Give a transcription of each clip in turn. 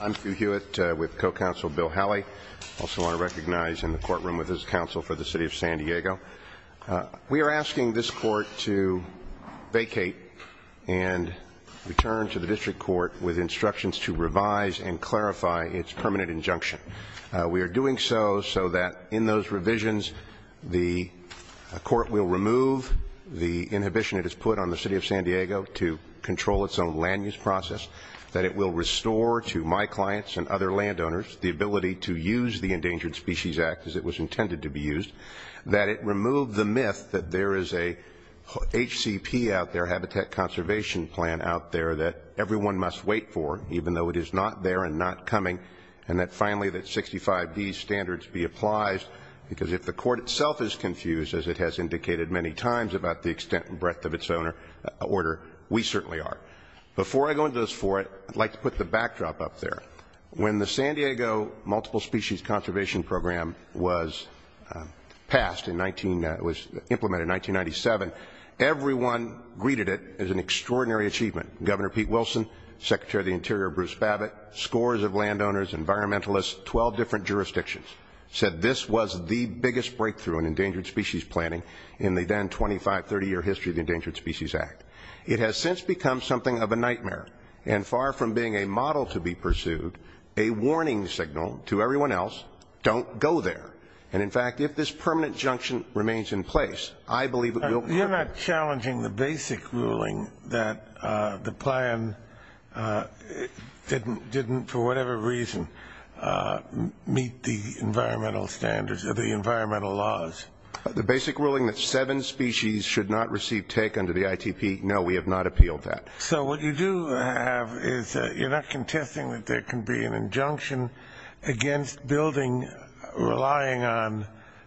I'm Hugh Hewitt with co-counsel Bill Halley. I also want to recognize him in the courtroom with his counsel for the City of San Diego. We are asking this court to vacate and return to the District Court with instructions to revise and clarify its permanent injunction. We are doing so so that in those revisions the court will remove the inhibition it has put on the City of San Diego to control its own land use process, that it will restore to my clients and other landowners the ability to use the Endangered Species Act as it was intended to be used, that it remove the myth that there is a HCP out there, Habitat Conservation Plan, out there that everyone must wait for even though it is not there and not coming, and that finally that 65B's standards be applied because if the court itself is confused, as it has indicated many times about the extent and breadth of its own order, we certainly are. Before I go into those four, I'd like to put the backdrop up there. When the San Diego Multiple Species Conservation Program was passed, it was implemented in 1997, everyone greeted it as an extraordinary achievement. Governor Pete Wilson, Secretary of the Interior Bruce Babbitt, scores of landowners, environmentalists, 12 different jurisdictions, said this was the biggest breakthrough in endangered species planning in the then 25-30 year history of the Endangered Species Act. It has since become something of a nightmare, and far from being a model to be pursued, a warning signal to everyone else, don't go there. And in fact, if this permanent junction remains in place, I believe it will work. You're not challenging the basic ruling that the plan didn't, for whatever reason, meet the environmental standards or the environmental laws? The basic ruling that seven species should not receive take under the ITP, no, we have not appealed that. So what you do have is you're not contesting that there can be an injunction against building relying on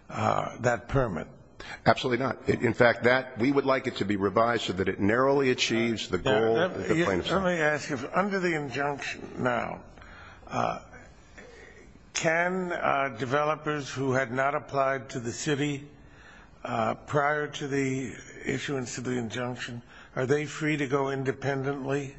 that permit? Absolutely not. In fact, we would like it to be revised so that it narrowly achieves the goal. Let me ask you, under the injunction now, can developers who had not applied to the city prior to the issuance of the injunction, are they free to go independently?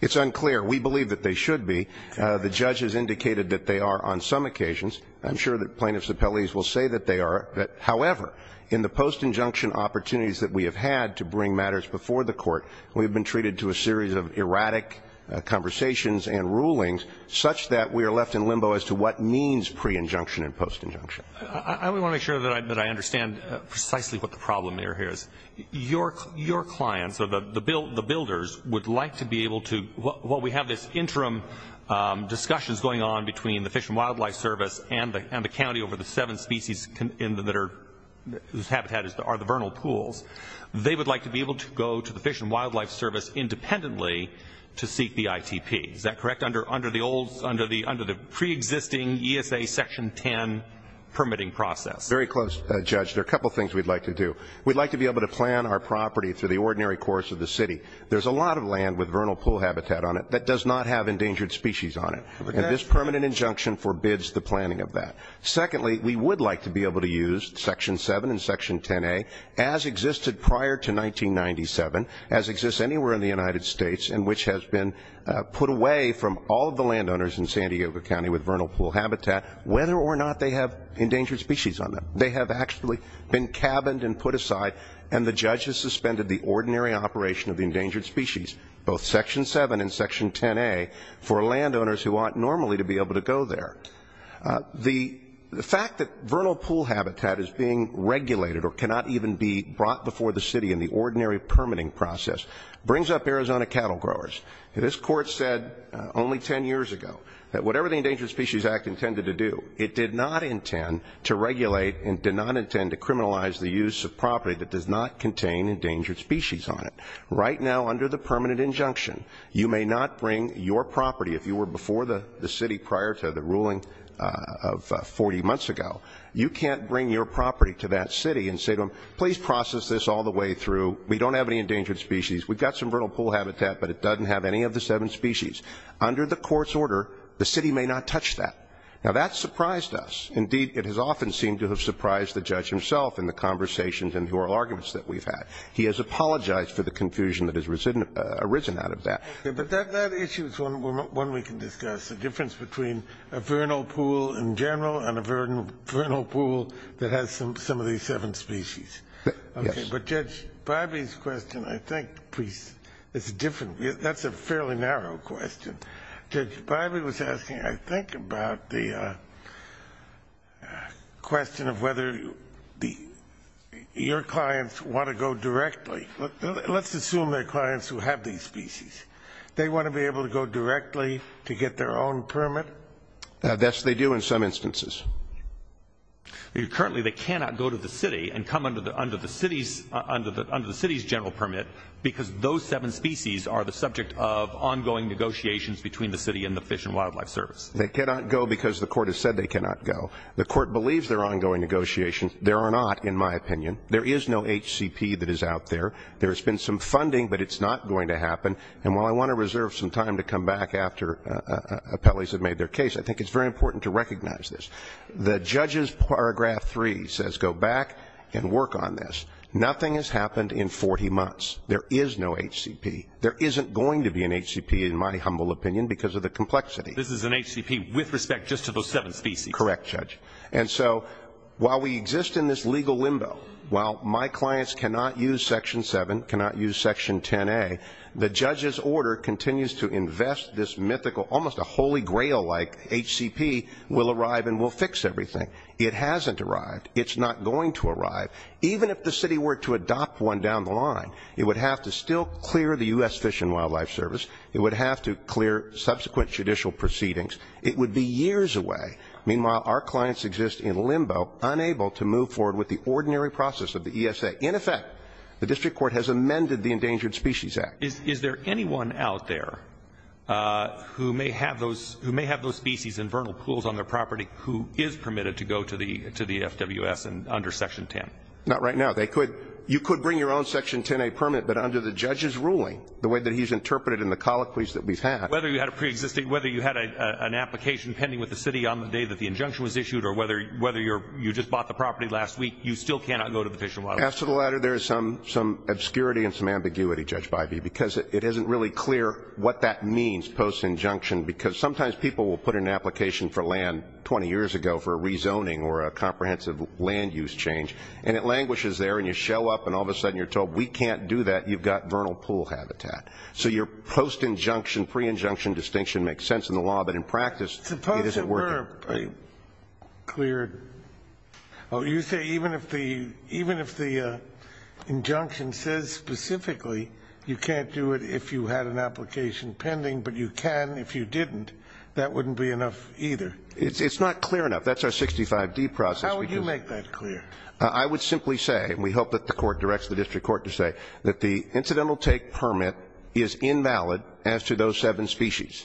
It's unclear. We believe that they should be. The judge has indicated that they are on some occasions. I'm sure that plaintiffs' appellees will say that they are. However, in the post-injunction opportunities that we have had to bring matters before the court, we have been treated to a series of erratic conversations and rulings such that we are left in limbo as to what means pre-injunction and post-injunction. I want to make sure that I understand precisely what the problem here is. Your clients or the builders would like to be able to, while we have this interim discussions going on between the Fish and Wildlife Service and the county over the seven species whose habitat are the vernal pools, they would like to be able to go to the Fish and Wildlife Service independently to seek the ITP. Is that correct? Under the pre-existing ESA Section 10 permitting process. Very close, Judge. There are a couple things we'd like to do. We'd like to be able to plan our property through the ordinary course of the city. There's a lot of land with vernal pool habitat on it that does not have endangered species on it. And this permanent injunction forbids the planning of that. Secondly, we would like to be able to use Section 7 and Section 10A as existed prior to 1997, as exists anywhere in the United States, and which has been put away from all of the landowners in San Diego County with vernal pool habitat, whether or not they have endangered species on them. They have actually been cabined and put aside, and the judges suspended the ordinary operation of the endangered species, both Section 7 and Section 10A, for landowners who ought normally to be able to go there. The fact that vernal pool habitat is being regulated or cannot even be brought before the city in the ordinary permitting process brings up Arizona cattle growers. This court said only 10 years ago that whatever the Endangered Species Act intended to do, it did not intend to regulate and did not intend to criminalize the use of property that does not contain endangered species on it. Right now, under the permanent injunction, you may not bring your property. If you were before the city prior to the ruling of 40 months ago, you can't bring your property to that city and say to them, Under the court's order, the city may not touch that. Now, that surprised us. Indeed, it has often seemed to have surprised the judge himself in the conversations and oral arguments that we've had. He has apologized for the confusion that has arisen out of that. But that issue is one we can discuss, the difference between a vernal pool in general and a vernal pool that has some of these seven species. Yes. But Judge Bivey's question, I think, is different. That's a fairly narrow question. Judge Bivey was asking, I think, about the question of whether your clients want to go directly. Let's assume they're clients who have these species. They want to be able to go directly to get their own permit? Yes, they do in some instances. Currently, they cannot go to the city and come under the city's general permit, because those seven species are the subject of ongoing negotiations between the city and the Fish and Wildlife Service. They cannot go because the court has said they cannot go. The court believes there are ongoing negotiations. There are not, in my opinion. There is no HCP that is out there. There has been some funding, but it's not going to happen. And while I want to reserve some time to come back after appellees have made their case, I think it's very important to recognize this. The judge's Paragraph 3 says go back and work on this. Nothing has happened in 40 months. There is no HCP. There isn't going to be an HCP, in my humble opinion, because of the complexity. This is an HCP with respect just to those seven species? Correct, Judge. And so while we exist in this legal limbo, while my clients cannot use Section 7, cannot use Section 10A, the judge's order continues to invest this mythical, almost a Holy Grail-like HCP will arrive and will fix everything. It hasn't arrived. It's not going to arrive. Even if the city were to adopt one down the line, it would have to still clear the U.S. Fish and Wildlife Service. It would have to clear subsequent judicial proceedings. It would be years away. Meanwhile, our clients exist in limbo, unable to move forward with the ordinary process of the ESA. In effect, the district court has amended the Endangered Species Act. Is there anyone out there who may have those species in vernal pools on their property who is permitted to go to the FWS under Section 10? Not right now. You could bring your own Section 10A permit, but under the judge's ruling, the way that he's interpreted it and the colloquies that we've had. Whether you had a preexisting, whether you had an application pending with the city on the day that the injunction was issued or whether you just bought the property last week, you still cannot go to the FWS. As to the latter, there is some obscurity and some ambiguity, Judge Bivey, because it isn't really clear what that means, post-injunction, because sometimes people will put in an application for land 20 years ago for a rezoning or a comprehensive land-use change, and it languishes there and you show up and all of a sudden you're told, we can't do that, you've got vernal pool habitat. So your post-injunction, pre-injunction distinction makes sense in the law, but in practice, it isn't working. It's not a clear... Oh, you say even if the injunction says specifically you can't do it if you had an application pending, but you can if you didn't, that wouldn't be enough either? It's not clear enough. That's our 65D process. How would you make that clear? I would simply say, and we hope that the court directs the district court to say, that the incidental take permit is invalid as to those seven species.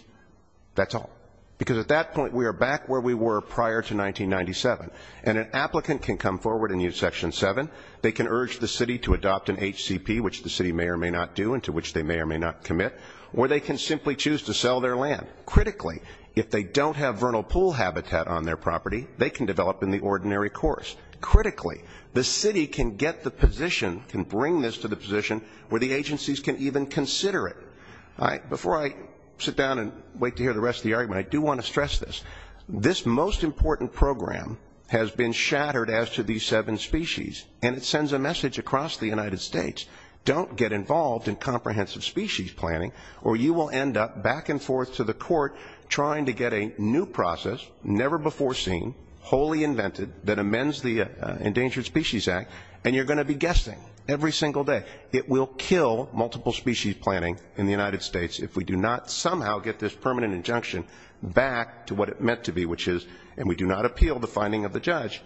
That's all. Because at that point, we are back where we were prior to 1997. And an applicant can come forward and use Section 7. They can urge the city to adopt an HCP, which the city may or may not do and to which they may or may not commit, or they can simply choose to sell their land. Critically, if they don't have vernal pool habitat on their property, they can develop in the ordinary course. Critically, the city can get the position, can bring this to the position where the agencies can even consider it. Before I sit down and wait to hear the rest of the argument, I do want to stress this. This most important program has been shattered as to these seven species, and it sends a message across the United States. Don't get involved in comprehensive species planning, or you will end up back and forth to the court trying to get a new process, never before seen, wholly invented, that amends the Endangered Species Act, and you're going to be guessing every single day. It will kill multiple species planning in the United States if we do not somehow get this permanent injunction back to what it meant to be, which is, and we do not appeal the finding of the judge,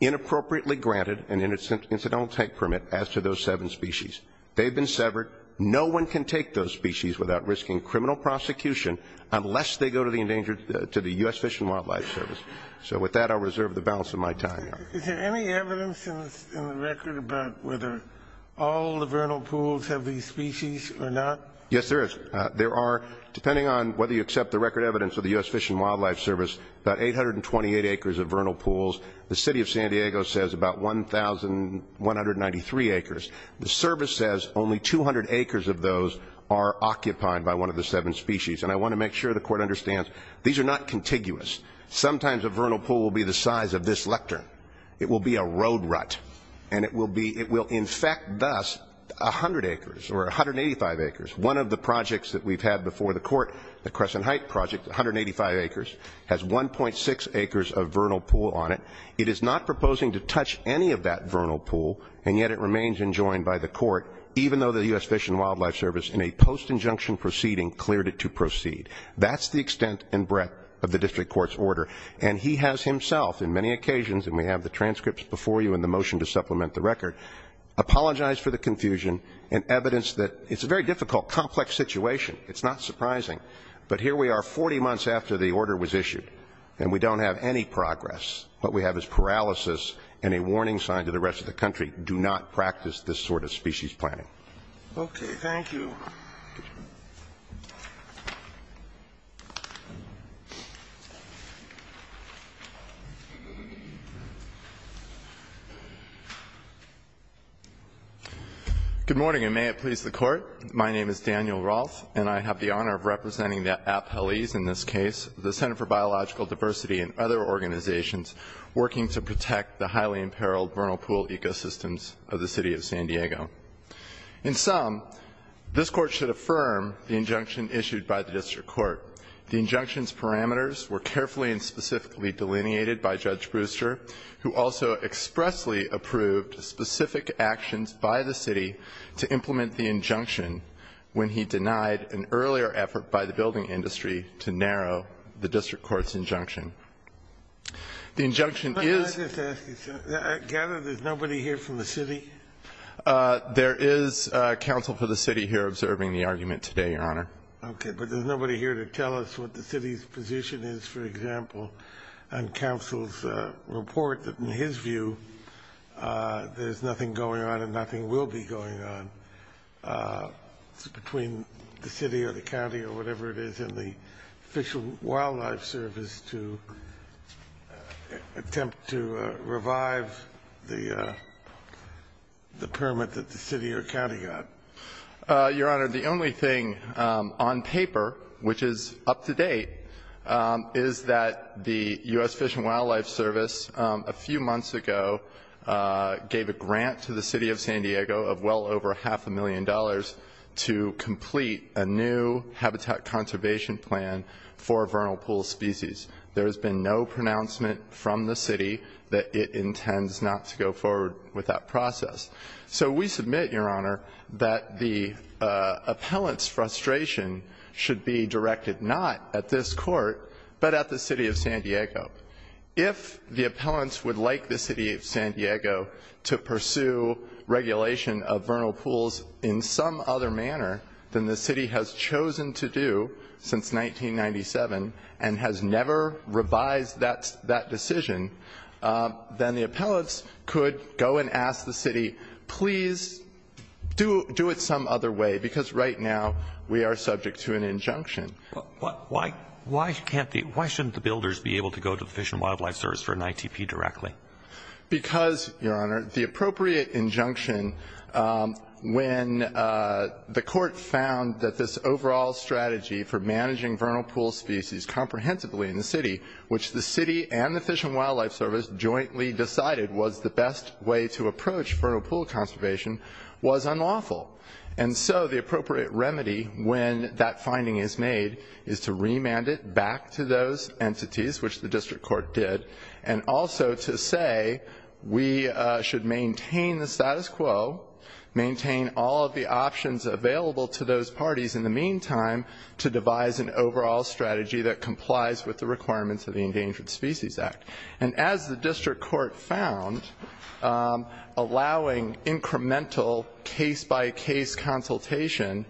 inappropriately granted an incidental take permit as to those seven species. They've been severed. No one can take those species without risking criminal prosecution unless they go to the U.S. Fish and Wildlife Service. So with that, I'll reserve the balance of my time. Is there any evidence in the record about whether all the vernal pools have these species or not? Yes, there is. There are, depending on whether you accept the record evidence of the U.S. Fish and Wildlife Service, about 828 acres of vernal pools. The city of San Diego says about 1,193 acres. The service says only 200 acres of those are occupied by one of the seven species, and I want to make sure the court understands these are not contiguous. Sometimes a vernal pool will be the size of this lectern. It will be a road rut, and it will infect, thus, 100 acres or 185 acres. One of the projects that we've had before the court, the Crescent Heights project, 185 acres, has 1.6 acres of vernal pool on it. It is not proposing to touch any of that vernal pool, and yet it remains enjoined by the court, even though the U.S. Fish and Wildlife Service, in a post-injunction proceeding, cleared it to proceed. That's the extent and breadth of the district court's order, and he has himself, in many occasions, and we have the transcripts before you in the motion to supplement the record, apologized for the confusion and evidenced that it's a very difficult, complex situation. It's not surprising. But here we are 40 months after the order was issued, and we don't have any progress. What we have is paralysis and a warning sign to the rest of the country, do not practice this sort of species planning. Okay, thank you. Good morning, and may it please the Court. My name is Daniel Roth, and I have the honor of representing the appellees in this case, the Center for Biological Diversity and other organizations working to protect the highly imperiled vernal pool ecosystems of the city of San Diego. In sum, this Court should affirm the injunction issued by the district court. The injunction's parameters were carefully and specifically delineated by Judge Brewster, who also expressly approved specific actions by the city to implement the injunction when he denied an earlier effort by the building industry to narrow the district court's injunction. The injunction is- May I just ask you, sir, I gather there's nobody here from the city? There is counsel for the city here observing the argument today, Your Honor. Okay, but there's nobody here to tell us what the city's position is, for example, and counsel's report that in his view there's nothing going on and nothing will be going on between the city or the county or whatever it is in the Fish and Wildlife Service to attempt to revive the permit that the city or county got. Your Honor, the only thing on paper which is up to date is that the U.S. Fish and Wildlife Service a few months ago gave a grant to the city of San Diego of well over half a million dollars to complete a new habitat conservation plan for vernal pool species. There has been no pronouncement from the city that it intends not to go forward with that process. So we submit, Your Honor, that the appellant's frustration should be directed not at this court, but at the city of San Diego. If the appellants would like the city of San Diego to pursue regulation of vernal pools in some other manner than the city has chosen to do since 1997 and has never revised that decision, then the appellants could go and ask the city, please do it some other way, because right now we are subject to an injunction. Why shouldn't the builders be able to go to the Fish and Wildlife Service for an ITP directly? Because, Your Honor, the appropriate injunction when the court found that this overall strategy for managing vernal pool species comprehensively in the city, which the city and the Fish and Wildlife Service jointly decided was the best way to approach vernal pool conservation, was unlawful. And so the appropriate remedy when that finding is made is to remand it back to those entities, which the district court did, and also to say we should maintain the status quo, maintain all of the options available to those parties in the meantime to devise an overall strategy that complies with the requirements of the Endangered Species Act. And as the district court found, allowing incremental case-by-case consultation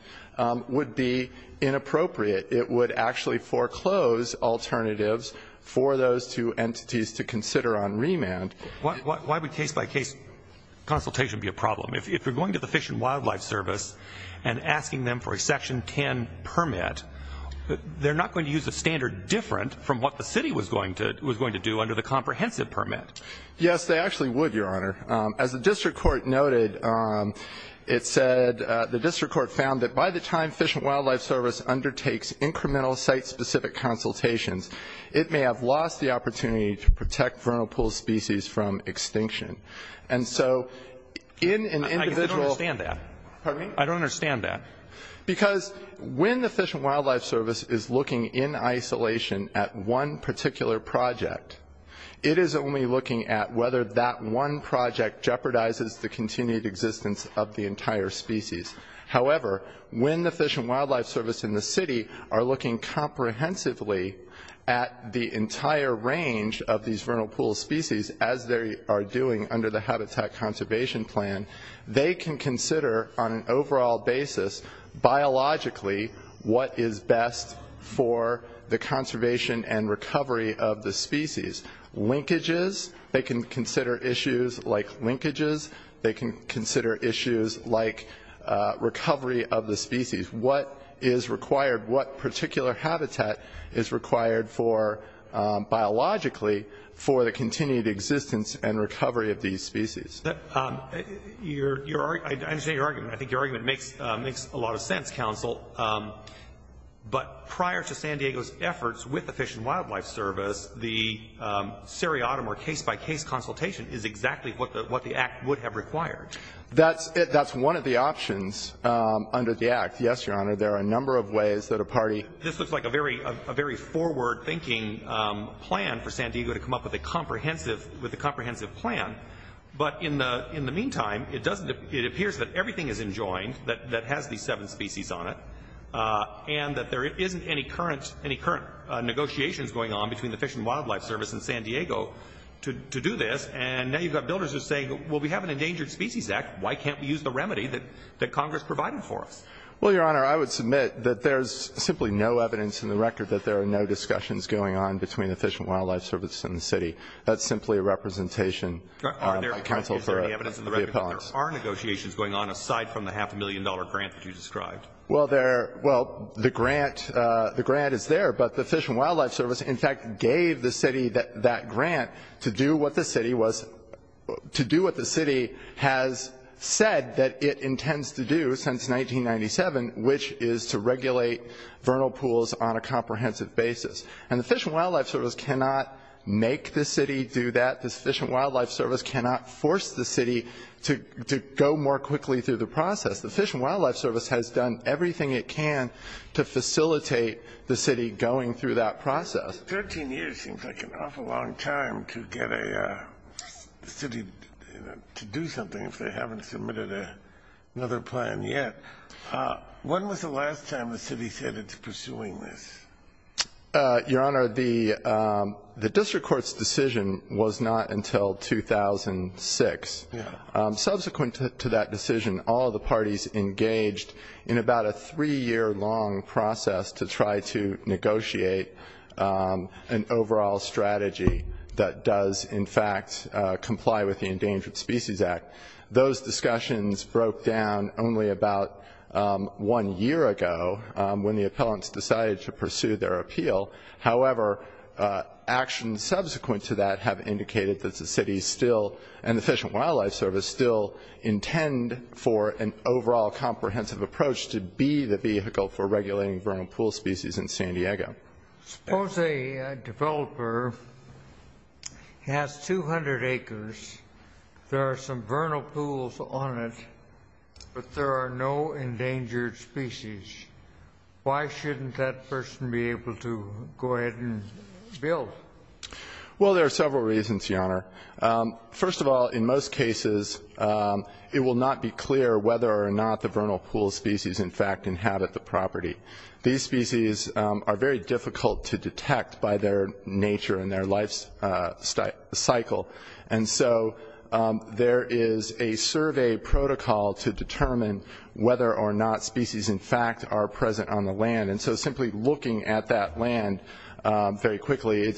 would be inappropriate. It would actually foreclose alternatives for those two entities to consider on remand. Why would case-by-case consultation be a problem? If you're going to the Fish and Wildlife Service and asking them for a Section 10 permit, they're not going to use a standard different from what the city was going to do under the comprehensive permit. Yes, they actually would, Your Honor. As the district court noted, it said the district court found that by the time Fish and Wildlife Service undertakes incremental site-specific consultations, it may have lost the opportunity to protect vernal pool species from extinction. And so in an individual ---- I don't understand that. Pardon me? I don't understand that. Because when the Fish and Wildlife Service is looking in isolation at one particular project, it is only looking at whether that one project jeopardizes the continued existence of the entire species. However, when the Fish and Wildlife Service and the city are looking comprehensively at the entire range of these vernal pool species, as they are doing under the Habitat Conservation Plan, they can consider on an overall basis biologically what is best for the conservation and recovery of the species. Linkages, they can consider issues like linkages. They can consider issues like recovery of the species. What is required? What particular habitat is required for, biologically, for the continued existence and recovery of these species? I understand your argument. I think your argument makes a lot of sense, Counsel. But prior to San Diego's efforts with the Fish and Wildlife Service, the seriatim or case-by-case consultation is exactly what the Act would have required. That's one of the options under the Act, yes, Your Honor. There are a number of ways that a party ---- This looks like a very forward-thinking plan for San Diego to come up with a comprehensive plan. But in the meantime, it appears that everything is enjoined that has these seven species on it and that there isn't any current negotiations going on between the Fish and Wildlife Service and San Diego to do this. And now you've got builders who are saying, well, we have an Endangered Species Act. Why can't we use the remedy that Congress provided for us? Well, Your Honor, I would submit that there is simply no evidence in the record that there are no discussions going on between the Fish and Wildlife Service and the city. That's simply a representation counseled by the appellants. If there is any evidence in the record that there are negotiations going on, aside from the half-a-million-dollar grant that you described? Well, the grant is there, but the Fish and Wildlife Service, in fact, gave the city that grant to do what the city was ---- to do what the city has said that it intends to do since 1997, which is to regulate vernal pools on a comprehensive basis. And the Fish and Wildlife Service cannot make the city do that. The Fish and Wildlife Service cannot force the city to go more quickly through the process. The Fish and Wildlife Service has done everything it can to facilitate the city going through that process. Thirteen years seems like an awful long time to get a city to do something if they haven't submitted another plan yet. When was the last time the city said it's pursuing this? Your Honor, the district court's decision was not until 2006. Subsequent to that decision, all of the parties engaged in about a three-year-long process to try to negotiate an overall strategy that does, in fact, comply with the Endangered Species Act. Those discussions broke down only about one year ago when the appellants decided to pursue their appeal. However, actions subsequent to that have indicated that the city still and the Fish and Wildlife Service still intend for an overall comprehensive approach to be the vehicle for regulating vernal pool species in San Diego. Suppose a developer has 200 acres. There are some vernal pools on it, but there are no endangered species. Why shouldn't that person be able to go ahead and build? Well, there are several reasons, Your Honor. First of all, in most cases, it will not be clear whether or not the vernal pool species, in fact, inhabit the property. These species are very difficult to detect by their nature and their life cycle. And so there is a survey protocol to determine whether or not species, in fact, are present on the land. And so simply looking at that land very quickly,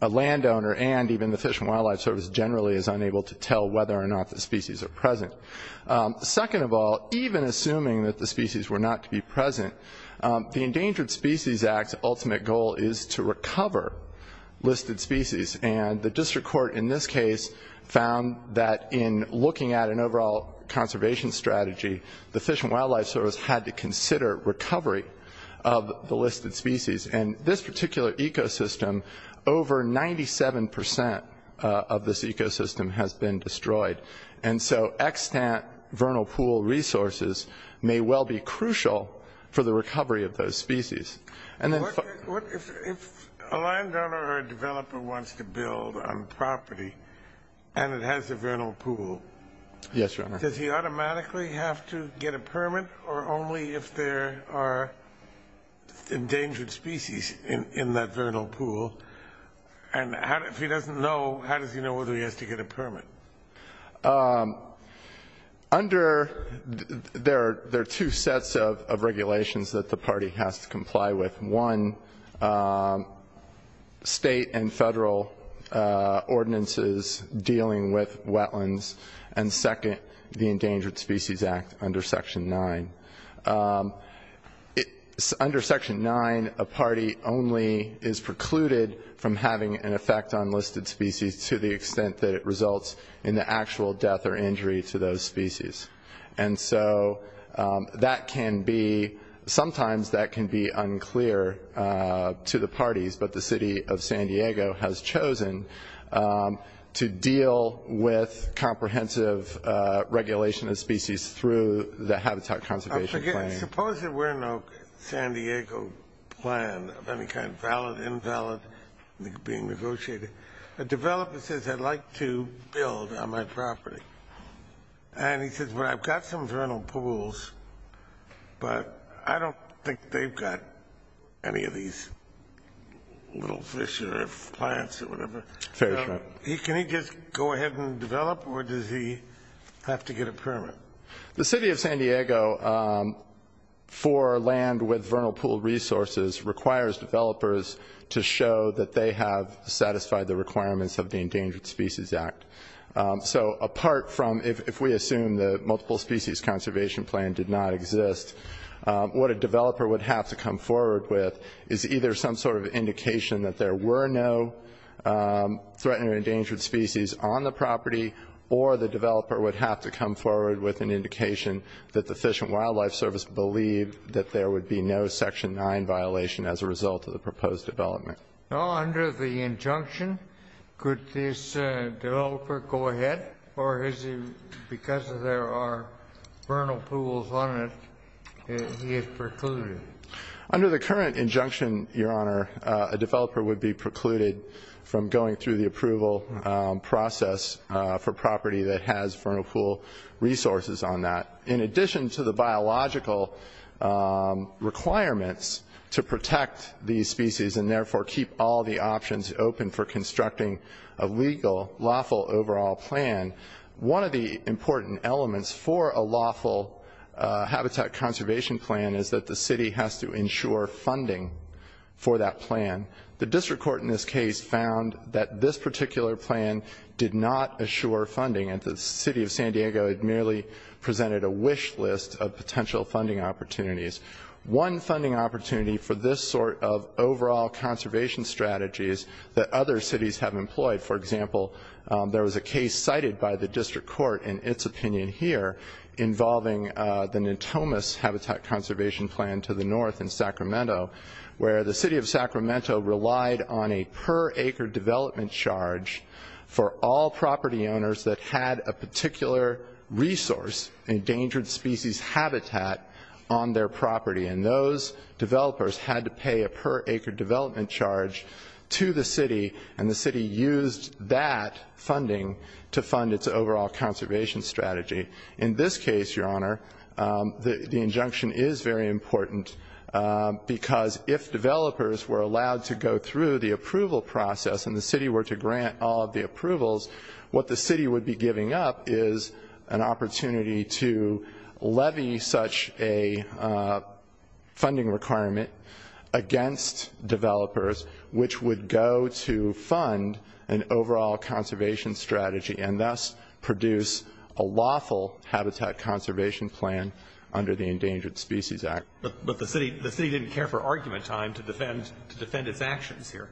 a landowner and even the Fish and Wildlife Service generally is unable to tell whether or not the species are present. Second of all, even assuming that the species were not to be present, the Endangered Species Act's ultimate goal is to recover listed species. And the district court in this case found that in looking at an overall conservation strategy, the Fish and Wildlife Service had to consider recovery of the listed species. And this particular ecosystem, over 97 percent of this ecosystem has been destroyed. And so extant vernal pool resources may well be crucial for the recovery of those species. If a landowner or a developer wants to build on property and it has a vernal pool, does he automatically have to get a permit or only if there are endangered species in that vernal pool? And if he doesn't know, how does he know whether he has to get a permit? There are two sets of regulations that the party has to comply with. One, state and federal ordinances dealing with wetlands. And second, the Endangered Species Act under Section 9. Under Section 9, a party only is precluded from having an effect on listed species to the extent that it results in the actual death or injury to those species. And so that can be, sometimes that can be unclear to the parties, but the city of San Diego has chosen to deal with comprehensive regulation of species through the habitat conservation plan. I forget, suppose there were no San Diego plan of any kind, valid, invalid, being negotiated. A developer says, I'd like to build on my property. And he says, well, I've got some vernal pools, but I don't think they've got any of these little fish or plants or whatever. Can he just go ahead and develop or does he have to get a permit? The city of San Diego, for land with vernal pool resources, requires developers to show that they have satisfied the requirements of the Endangered Species Act. So apart from if we assume the multiple species conservation plan did not exist, what a developer would have to come forward with is either some sort of indication that there were no threatened or endangered species on the property, or the developer would have to come forward with an indication that the Fish and Wildlife Service believed that there would be no Section 9 violation as a result of the proposed development. Now, under the injunction, could this developer go ahead or because there are vernal pools on it, he is precluded? Under the current injunction, Your Honor, a developer would be precluded from going through the approval process for property that has vernal pool resources on that. In addition to the biological requirements to protect these species and therefore keep all the options open for constructing a legal, lawful overall plan, one of the important elements for a lawful habitat conservation plan is that the city has to ensure funding for that plan. The district court in this case found that this particular plan did not assure funding and the city of San Diego had merely presented a wish list of potential funding opportunities. One funding opportunity for this sort of overall conservation strategy is that other cities have employed. For example, there was a case cited by the district court in its opinion here involving the Natomas Habitat Conservation Plan to the north in Sacramento, where the city of Sacramento relied on a per acre development charge for all property owners that had a particular resource, endangered species habitat, on their property. And those developers had to pay a per acre development charge to the city and the city used that funding to fund its overall conservation strategy. In this case, Your Honor, the injunction is very important because if developers were allowed to go through the approval process and the city were to grant all of the approvals, what the city would be giving up is an opportunity to levy such a funding requirement against developers, which would go to fund an overall conservation strategy and thus produce a lawful habitat conservation plan under the Endangered Species Act. But the city didn't care for argument time to defend its actions here.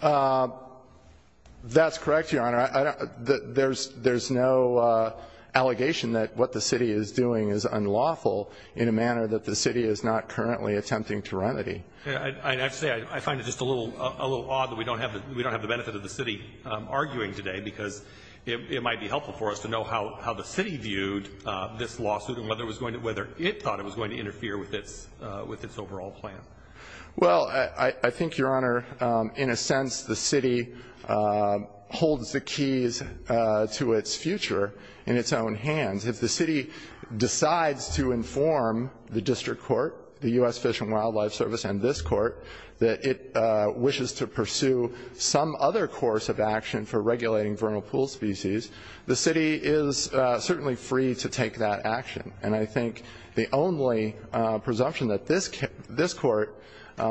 That's correct, Your Honor. There's no allegation that what the city is doing is unlawful in a manner that the city is not currently attempting to remedy. I have to say I find it just a little odd that we don't have the benefit of the city arguing today because it might be helpful for us to know how the city viewed this lawsuit and whether it thought it was going to interfere with its overall plan. Well, I think, Your Honor, in a sense the city holds the keys to its future in its own hands. If the city decides to inform the district court, the U.S. Fish and Wildlife Service, and this court that it wishes to pursue some other course of action for regulating vernal pool species, the city is certainly free to take that action. And I think the only presumption that this court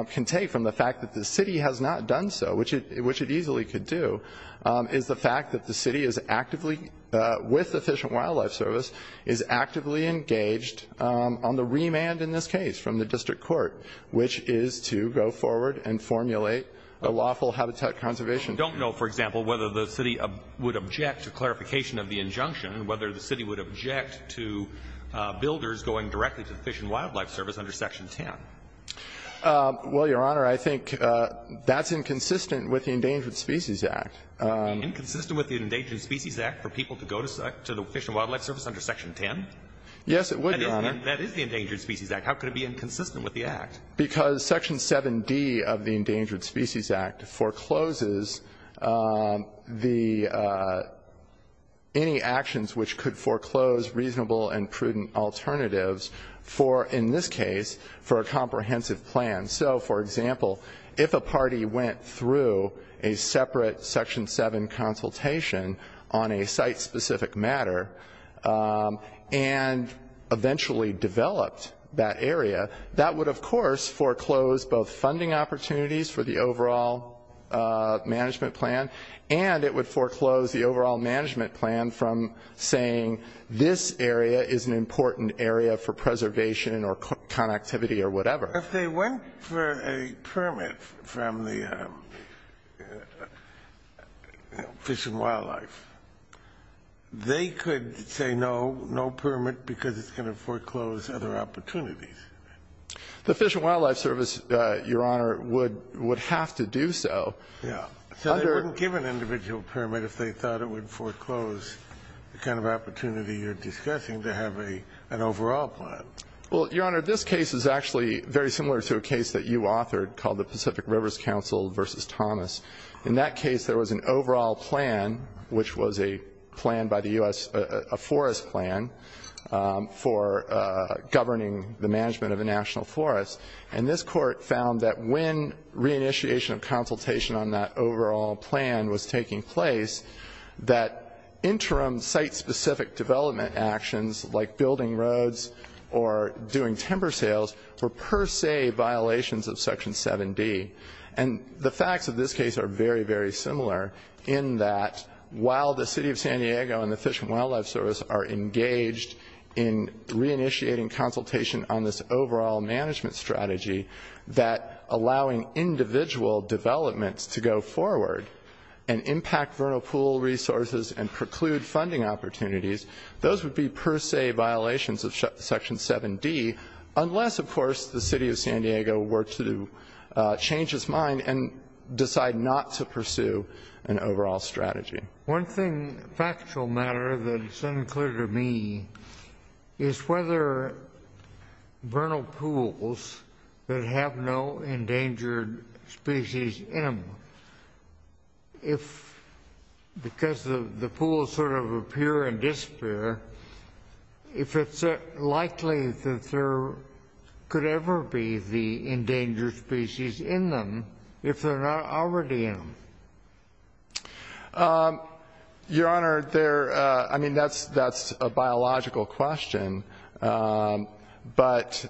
can take from the fact that the city has not done so, which it easily could do, is the fact that the city is actively, with the Fish and Wildlife Service, is actively engaged on the remand in this case from the district court, which is to go forward and formulate a lawful habitat conservation plan. We don't know, for example, whether the city would object to clarification of the injunction and whether the city would object to builders going directly to the Fish and Wildlife Service under Section 10. Well, Your Honor, I think that's inconsistent with the Endangered Species Act. Inconsistent with the Endangered Species Act for people to go to the Fish and Wildlife Service under Section 10? Yes, it would, Your Honor. That is the Endangered Species Act. How could it be inconsistent with the Act? Because Section 7D of the Endangered Species Act forecloses any actions which could foreclose reasonable and prudent alternatives for, in this case, for a comprehensive plan. So, for example, if a party went through a separate Section 7 consultation on a site-specific matter and eventually developed that area, that would, of course, foreclose both funding opportunities for the overall management plan and it would foreclose the overall management plan from saying, this area is an important area for preservation or connectivity or whatever. If they went for a permit from the Fish and Wildlife, they could say no, no permit because it's going to foreclose other opportunities. The Fish and Wildlife Service, Your Honor, would have to do so. Yes. So they wouldn't give an individual permit if they thought it would foreclose the kind of opportunity you're discussing to have an overall plan. Well, Your Honor, this case is actually very similar to a case that you authored called the Pacific Rivers Council v. Thomas. In that case, there was an overall plan, which was a plan by the U.S., a forest plan, for governing the management of a national forest. And this Court found that when reinitiation of consultation on that overall plan was taking place, that interim site-specific development actions like building roads or doing timber sales were per se violations of Section 7D. And the facts of this case are very, very similar in that while the City of San Diego and the Fish and Wildlife Service are engaged in reinitiating consultation on this overall management strategy, that allowing individual developments to go forward and impact vernal pool resources and preclude funding opportunities, those would be per se violations of Section 7D unless, of course, the City of San Diego were to change its mind and decide not to pursue an overall strategy. One thing, factual matter, that is unclear to me is whether vernal pools that have no endangered species in them, if because the pools sort of appear and disappear, if it's likely that there could ever be the endangered species in them if they're not already in them. Your Honor, I mean, that's a biological question. But,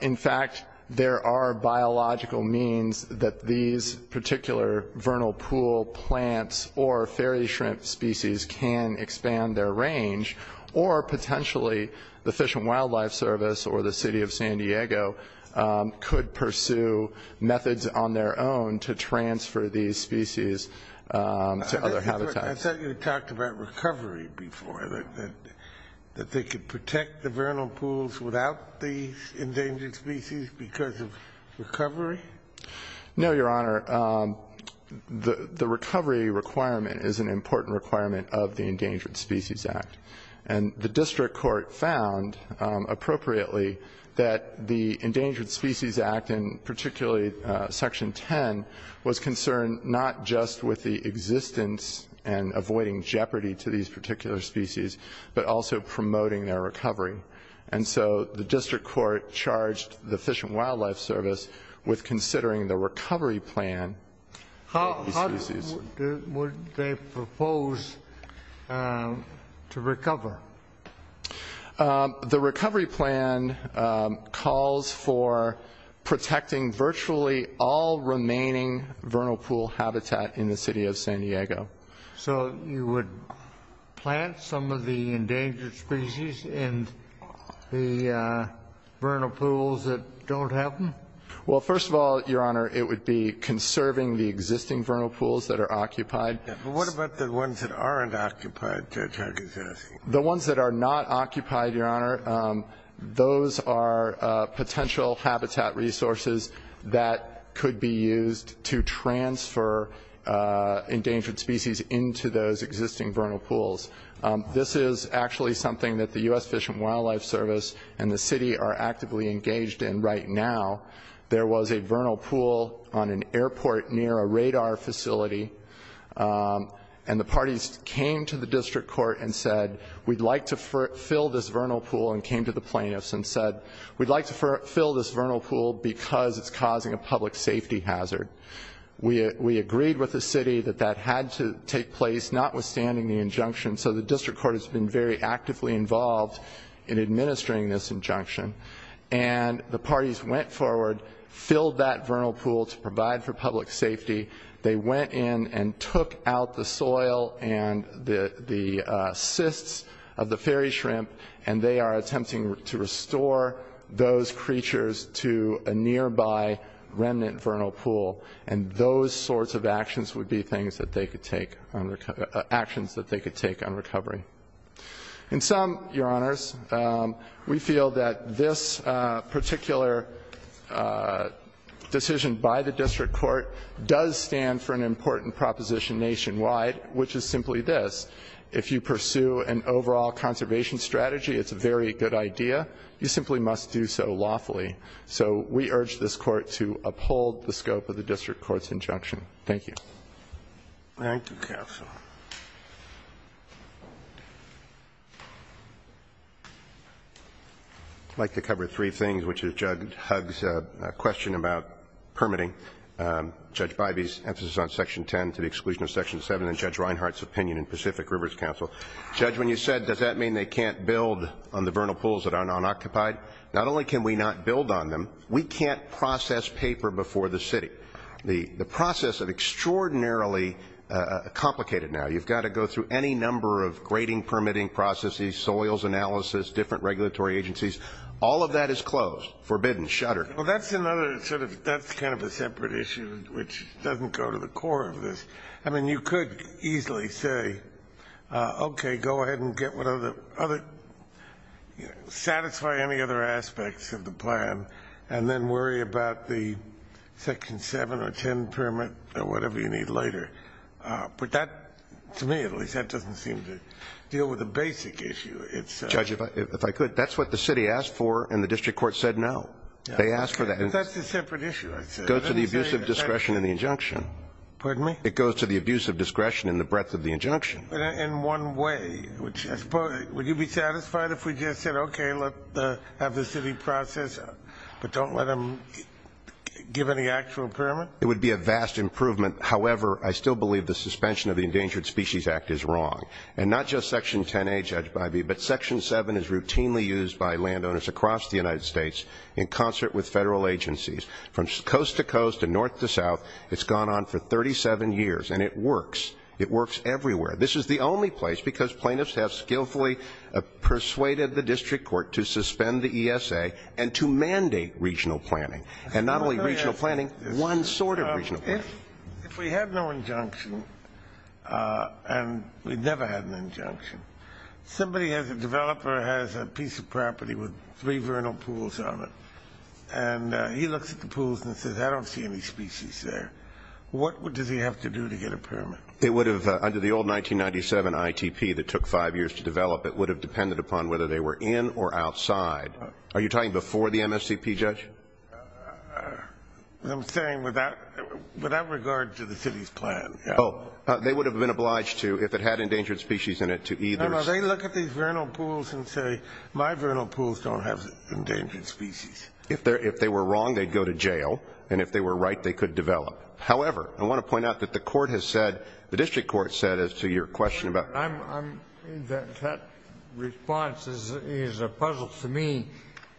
in fact, there are biological means that these particular vernal pool plants or fairy shrimp species can expand their range, or potentially the Fish and Wildlife Service or the City of San Diego could pursue methods on their own to transfer these species to other habitats. I thought you had talked about recovery before, that they could protect the vernal pools without these endangered species because of recovery. No, Your Honor. The recovery requirement is an important requirement of the Endangered Species Act. And the district court found, appropriately, that the Endangered Species Act, and particularly Section 10, was concerned not just with the existence and avoiding jeopardy to these particular species, but also promoting their recovery. And so the district court charged the Fish and Wildlife Service with considering the recovery plan. How would they propose to recover? The recovery plan calls for protecting virtually all remaining vernal pool habitat in the City of San Diego. So you would plant some of the endangered species in the vernal pools that don't have them? Well, first of all, Your Honor, it would be conserving the existing vernal pools that are occupied. But what about the ones that aren't occupied, Judge Harkins is asking? The ones that are not occupied, Your Honor, those are potential habitat resources that could be used to transfer endangered species into those existing vernal pools. This is actually something that the U.S. Fish and Wildlife Service and the City are actively engaged in right now. There was a vernal pool on an airport near a radar facility, and the parties came to the district court and said, we'd like to fill this vernal pool and came to the plaintiffs and said, we'd like to fill this vernal pool because it's causing a public safety hazard. We agreed with the City that that had to take place, notwithstanding the injunction. So the district court has been very actively involved in administering this injunction. And the parties went forward, filled that vernal pool to provide for public safety. They went in and took out the soil and the cysts of the fairy shrimp, and they are attempting to restore those creatures to a nearby remnant vernal pool. And those sorts of actions would be things that they could take on recovery, actions that they could take on recovery. In sum, Your Honors, we feel that this particular decision by the district court does stand for an important proposition nationwide, which is simply this. If you pursue an overall conservation strategy, it's a very good idea. You simply must do so lawfully. So we urge this Court to uphold the scope of the district court's injunction. Thank you. Roberts. Thank you, counsel. I'd like to cover three things, which is Judge Hugg's question about permitting. Judge Bivey's emphasis on Section 10 to the exclusion of Section 7, and Judge Reinhart's opinion in Pacific Rivers Council. Judge, when you said, does that mean they can't build on the vernal pools that are non-occupied, not only can we not build on them, we can't process paper before the city. The process is extraordinarily complicated now. You've got to go through any number of grading permitting processes, soils analysis, different regulatory agencies. All of that is closed, forbidden, shuttered. Well, that's kind of a separate issue, which doesn't go to the core of this. I mean, you could easily say, okay, go ahead and satisfy any other aspects of the plan and then worry about the Section 7 or 10 permit or whatever you need later. But to me, at least, that doesn't seem to deal with the basic issue. Judge, if I could, that's what the city asked for and the district court said no. They asked for that. That's a separate issue. It goes to the abuse of discretion in the injunction. Pardon me? It goes to the abuse of discretion in the breadth of the injunction. In one way, would you be satisfied if we just said, okay, let's have the city process, but don't let them give any actual permit? It would be a vast improvement. However, I still believe the suspension of the Endangered Species Act is wrong. And not just Section 10A, Judge Bivey, but Section 7 is routinely used by landowners across the United States in concert with federal agencies from coast to coast and north to south. It's gone on for 37 years, and it works. It works everywhere. This is the only place, because plaintiffs have skillfully persuaded the district court to suspend the ESA and to mandate regional planning, and not only regional planning, one sort of regional planning. If we had no injunction, and we've never had an injunction, somebody has a developer has a piece of property with three vernal pools on it, and he looks at the pools and says, I don't see any species there. What does he have to do to get a permit? It would have, under the old 1997 ITP that took five years to develop, it would have depended upon whether they were in or outside. Are you talking before the MSCP, Judge? I'm saying without regard to the city's plan. Oh, they would have been obliged to, if it had endangered species in it, to either. No, no, they look at these vernal pools and say, my vernal pools don't have endangered species. If they were wrong, they'd go to jail, and if they were right, they could develop. However, I want to point out that the court has said, the district court has said, as to your question about That response is a puzzle to me,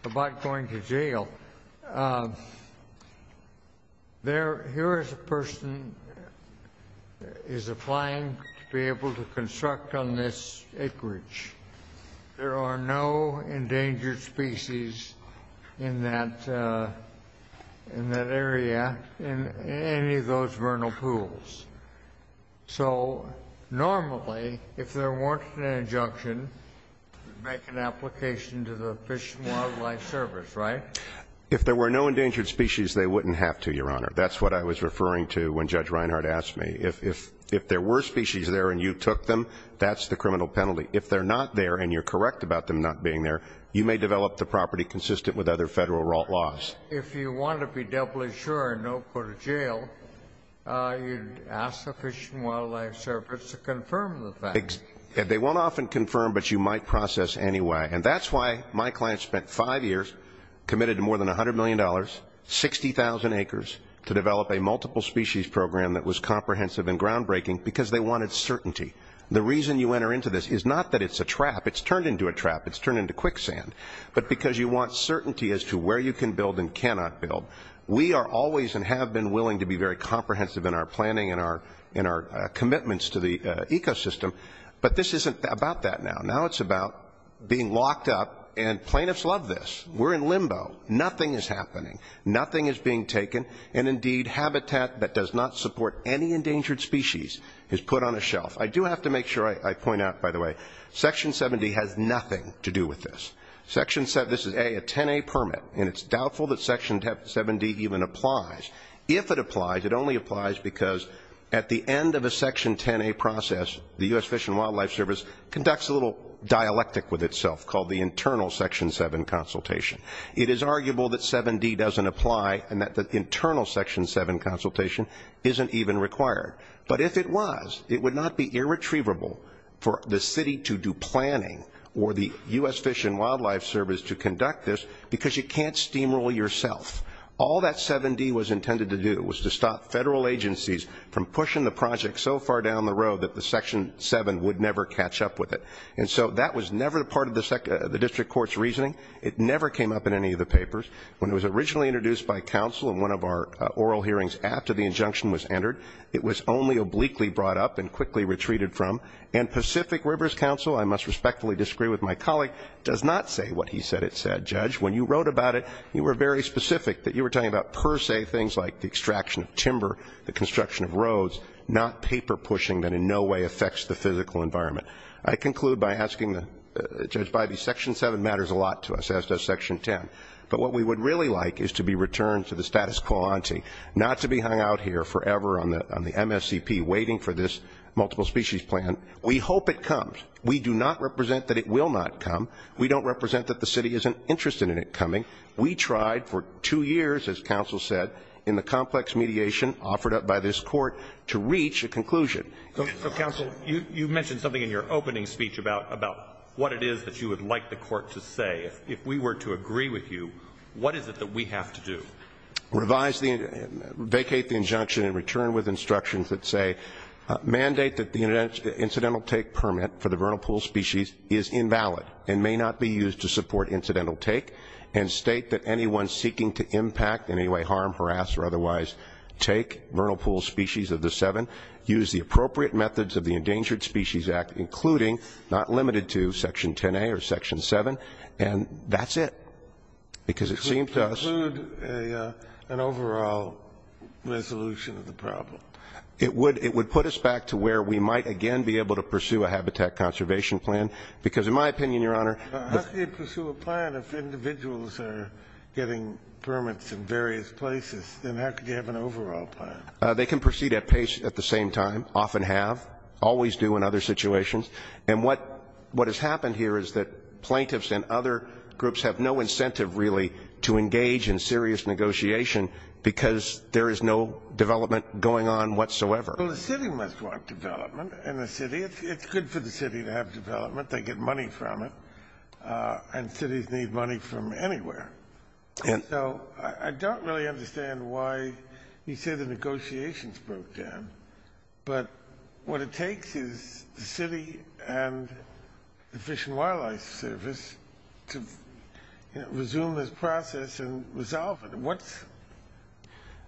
about going to jail. Here is a person is applying to be able to construct on this acreage. There are no endangered species in that area, in any of those vernal pools. So normally, if there weren't an injunction, make an application to the Fish and Wildlife Service, right? If there were no endangered species, they wouldn't have to, Your Honor. That's what I was referring to when Judge Reinhart asked me. If there were species there and you took them, that's the criminal penalty. If they're not there and you're correct about them not being there, you may develop the property consistent with other Federal errant laws. If you want to be doubly sure and not go to jail, you'd ask the Fish and Wildlife Service to confirm the facts. They won't often confirm, but you might process anyway. And that's why my client spent five years, committed to more than $100 million, 60,000 acres, to develop a multiple species program that was comprehensive and groundbreaking, because they wanted certainty. The reason you enter into this is not that it's a trap. It's turned into a trap. It's turned into quicksand. But because you want certainty as to where you can build and cannot build. We are always and have been willing to be very comprehensive in our planning and our commitments to the ecosystem. But this isn't about that now. Now it's about being locked up, and plaintiffs love this. We're in limbo. Nothing is happening. Nothing is being taken. And, indeed, habitat that does not support any endangered species is put on a shelf. I do have to make sure I point out, by the way, Section 70 has nothing to do with this. Section 70, this is a 10A permit, and it's doubtful that Section 70 even applies. If it applies, it only applies because at the end of a Section 10A process, the U.S. Fish and Wildlife Service conducts a little dialectic with itself called the internal Section 7 consultation. It is arguable that 7D doesn't apply and that the internal Section 7 consultation isn't even required. But if it was, it would not be irretrievable for the city to do planning or the U.S. Fish and Wildlife Service to conduct this because you can't steamroll yourself. All that 7D was intended to do was to stop federal agencies from pushing the project so far down the road that the Section 7 would never catch up with it. And so that was never part of the district court's reasoning. It never came up in any of the papers. When it was originally introduced by counsel in one of our oral hearings after the injunction was entered, it was only obliquely brought up and quickly retreated from. And Pacific Rivers Counsel, I must respectfully disagree with my colleague, does not say what he said it said. Judge, when you wrote about it, you were very specific that you were talking about per se things like the extraction of timber, the construction of roads, not paper pushing that in no way affects the physical environment. I conclude by asking Judge Bybee, Section 7 matters a lot to us, as does Section 10. But what we would really like is to be returned to the status quo ante, not to be hung out here forever on the MSCP waiting for this multiple species plan. We hope it comes. We do not represent that it will not come. We don't represent that the city isn't interested in it coming. We tried for two years, as counsel said, in the complex mediation offered up by this court to reach a conclusion. So, counsel, you mentioned something in your opening speech about what it is that you would like the court to say. If we were to agree with you, what is it that we have to do? Revise the, vacate the injunction and return with instructions that say, mandate that the incidental take permit for the vernal pool species is invalid and may not be used to support incidental take, and state that anyone seeking to impact, in any way, harm, harass, or otherwise, take vernal pool species of the seven, use the appropriate methods of the Endangered Species Act, including, not limited to, Section 10A or Section 7. And that's it. Because it seems to us... It would include an overall resolution of the problem. It would put us back to where we might, again, be able to pursue a habitat conservation plan, because, in my opinion, Your Honor... How could you pursue a plan if individuals are getting permits in various places? Then how could you have an overall plan? They can proceed at pace at the same time, often have, always do in other situations. And what has happened here is that plaintiffs and other groups have no incentive, really, to engage in serious negotiation because there is no development going on whatsoever. Well, the city must want development. And the city, it's good for the city to have development. They get money from it. And cities need money from anywhere. And so I don't really understand why you say the negotiations broke down. But what it takes is the city and the Fish and Wildlife Service to resume this process and resolve it. What's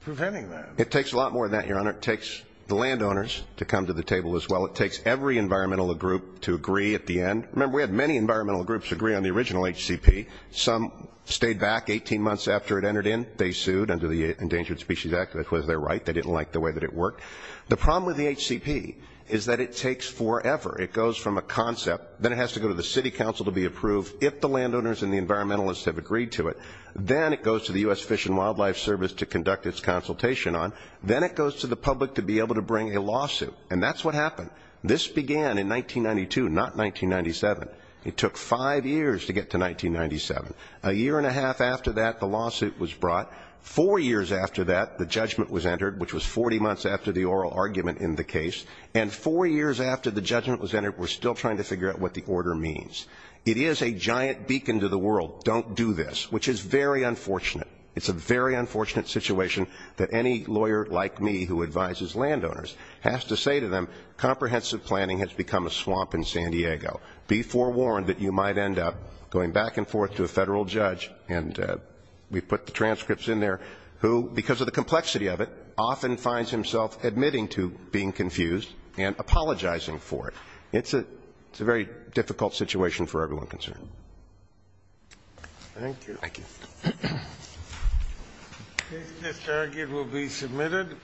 preventing that? It takes a lot more than that, Your Honor. It takes the landowners to come to the table as well. It takes every environmental group to agree at the end. Remember, we had many environmental groups agree on the original HCP. Some stayed back 18 months after it entered in. They sued under the Endangered Species Act. That was their right. They didn't like the way that it worked. The problem with the HCP is that it takes forever. It goes from a concept. Then it has to go to the city council to be approved if the landowners and the environmentalists have agreed to it. Then it goes to the U.S. Fish and Wildlife Service to conduct its consultation on. Then it goes to the public to be able to bring a lawsuit. And that's what happened. This began in 1992, not 1997. It took five years to get to 1997. A year and a half after that, the lawsuit was brought. Four years after that, the judgment was entered, which was 40 months after the oral argument in the case. And four years after the judgment was entered, we're still trying to figure out what the order means. It is a giant beacon to the world, don't do this, which is very unfortunate. It's a very unfortunate situation that any lawyer like me who advises landowners has to say to them, comprehensive planning has become a swamp in San Diego. Be forewarned that you might end up going back and forth to a federal judge. And we put the transcripts in there who, because of the complexity of it, often finds himself admitting to being confused and apologizing for it. It's a very difficult situation for everyone concerned. Thank you. Thank you. This argument will be submitted.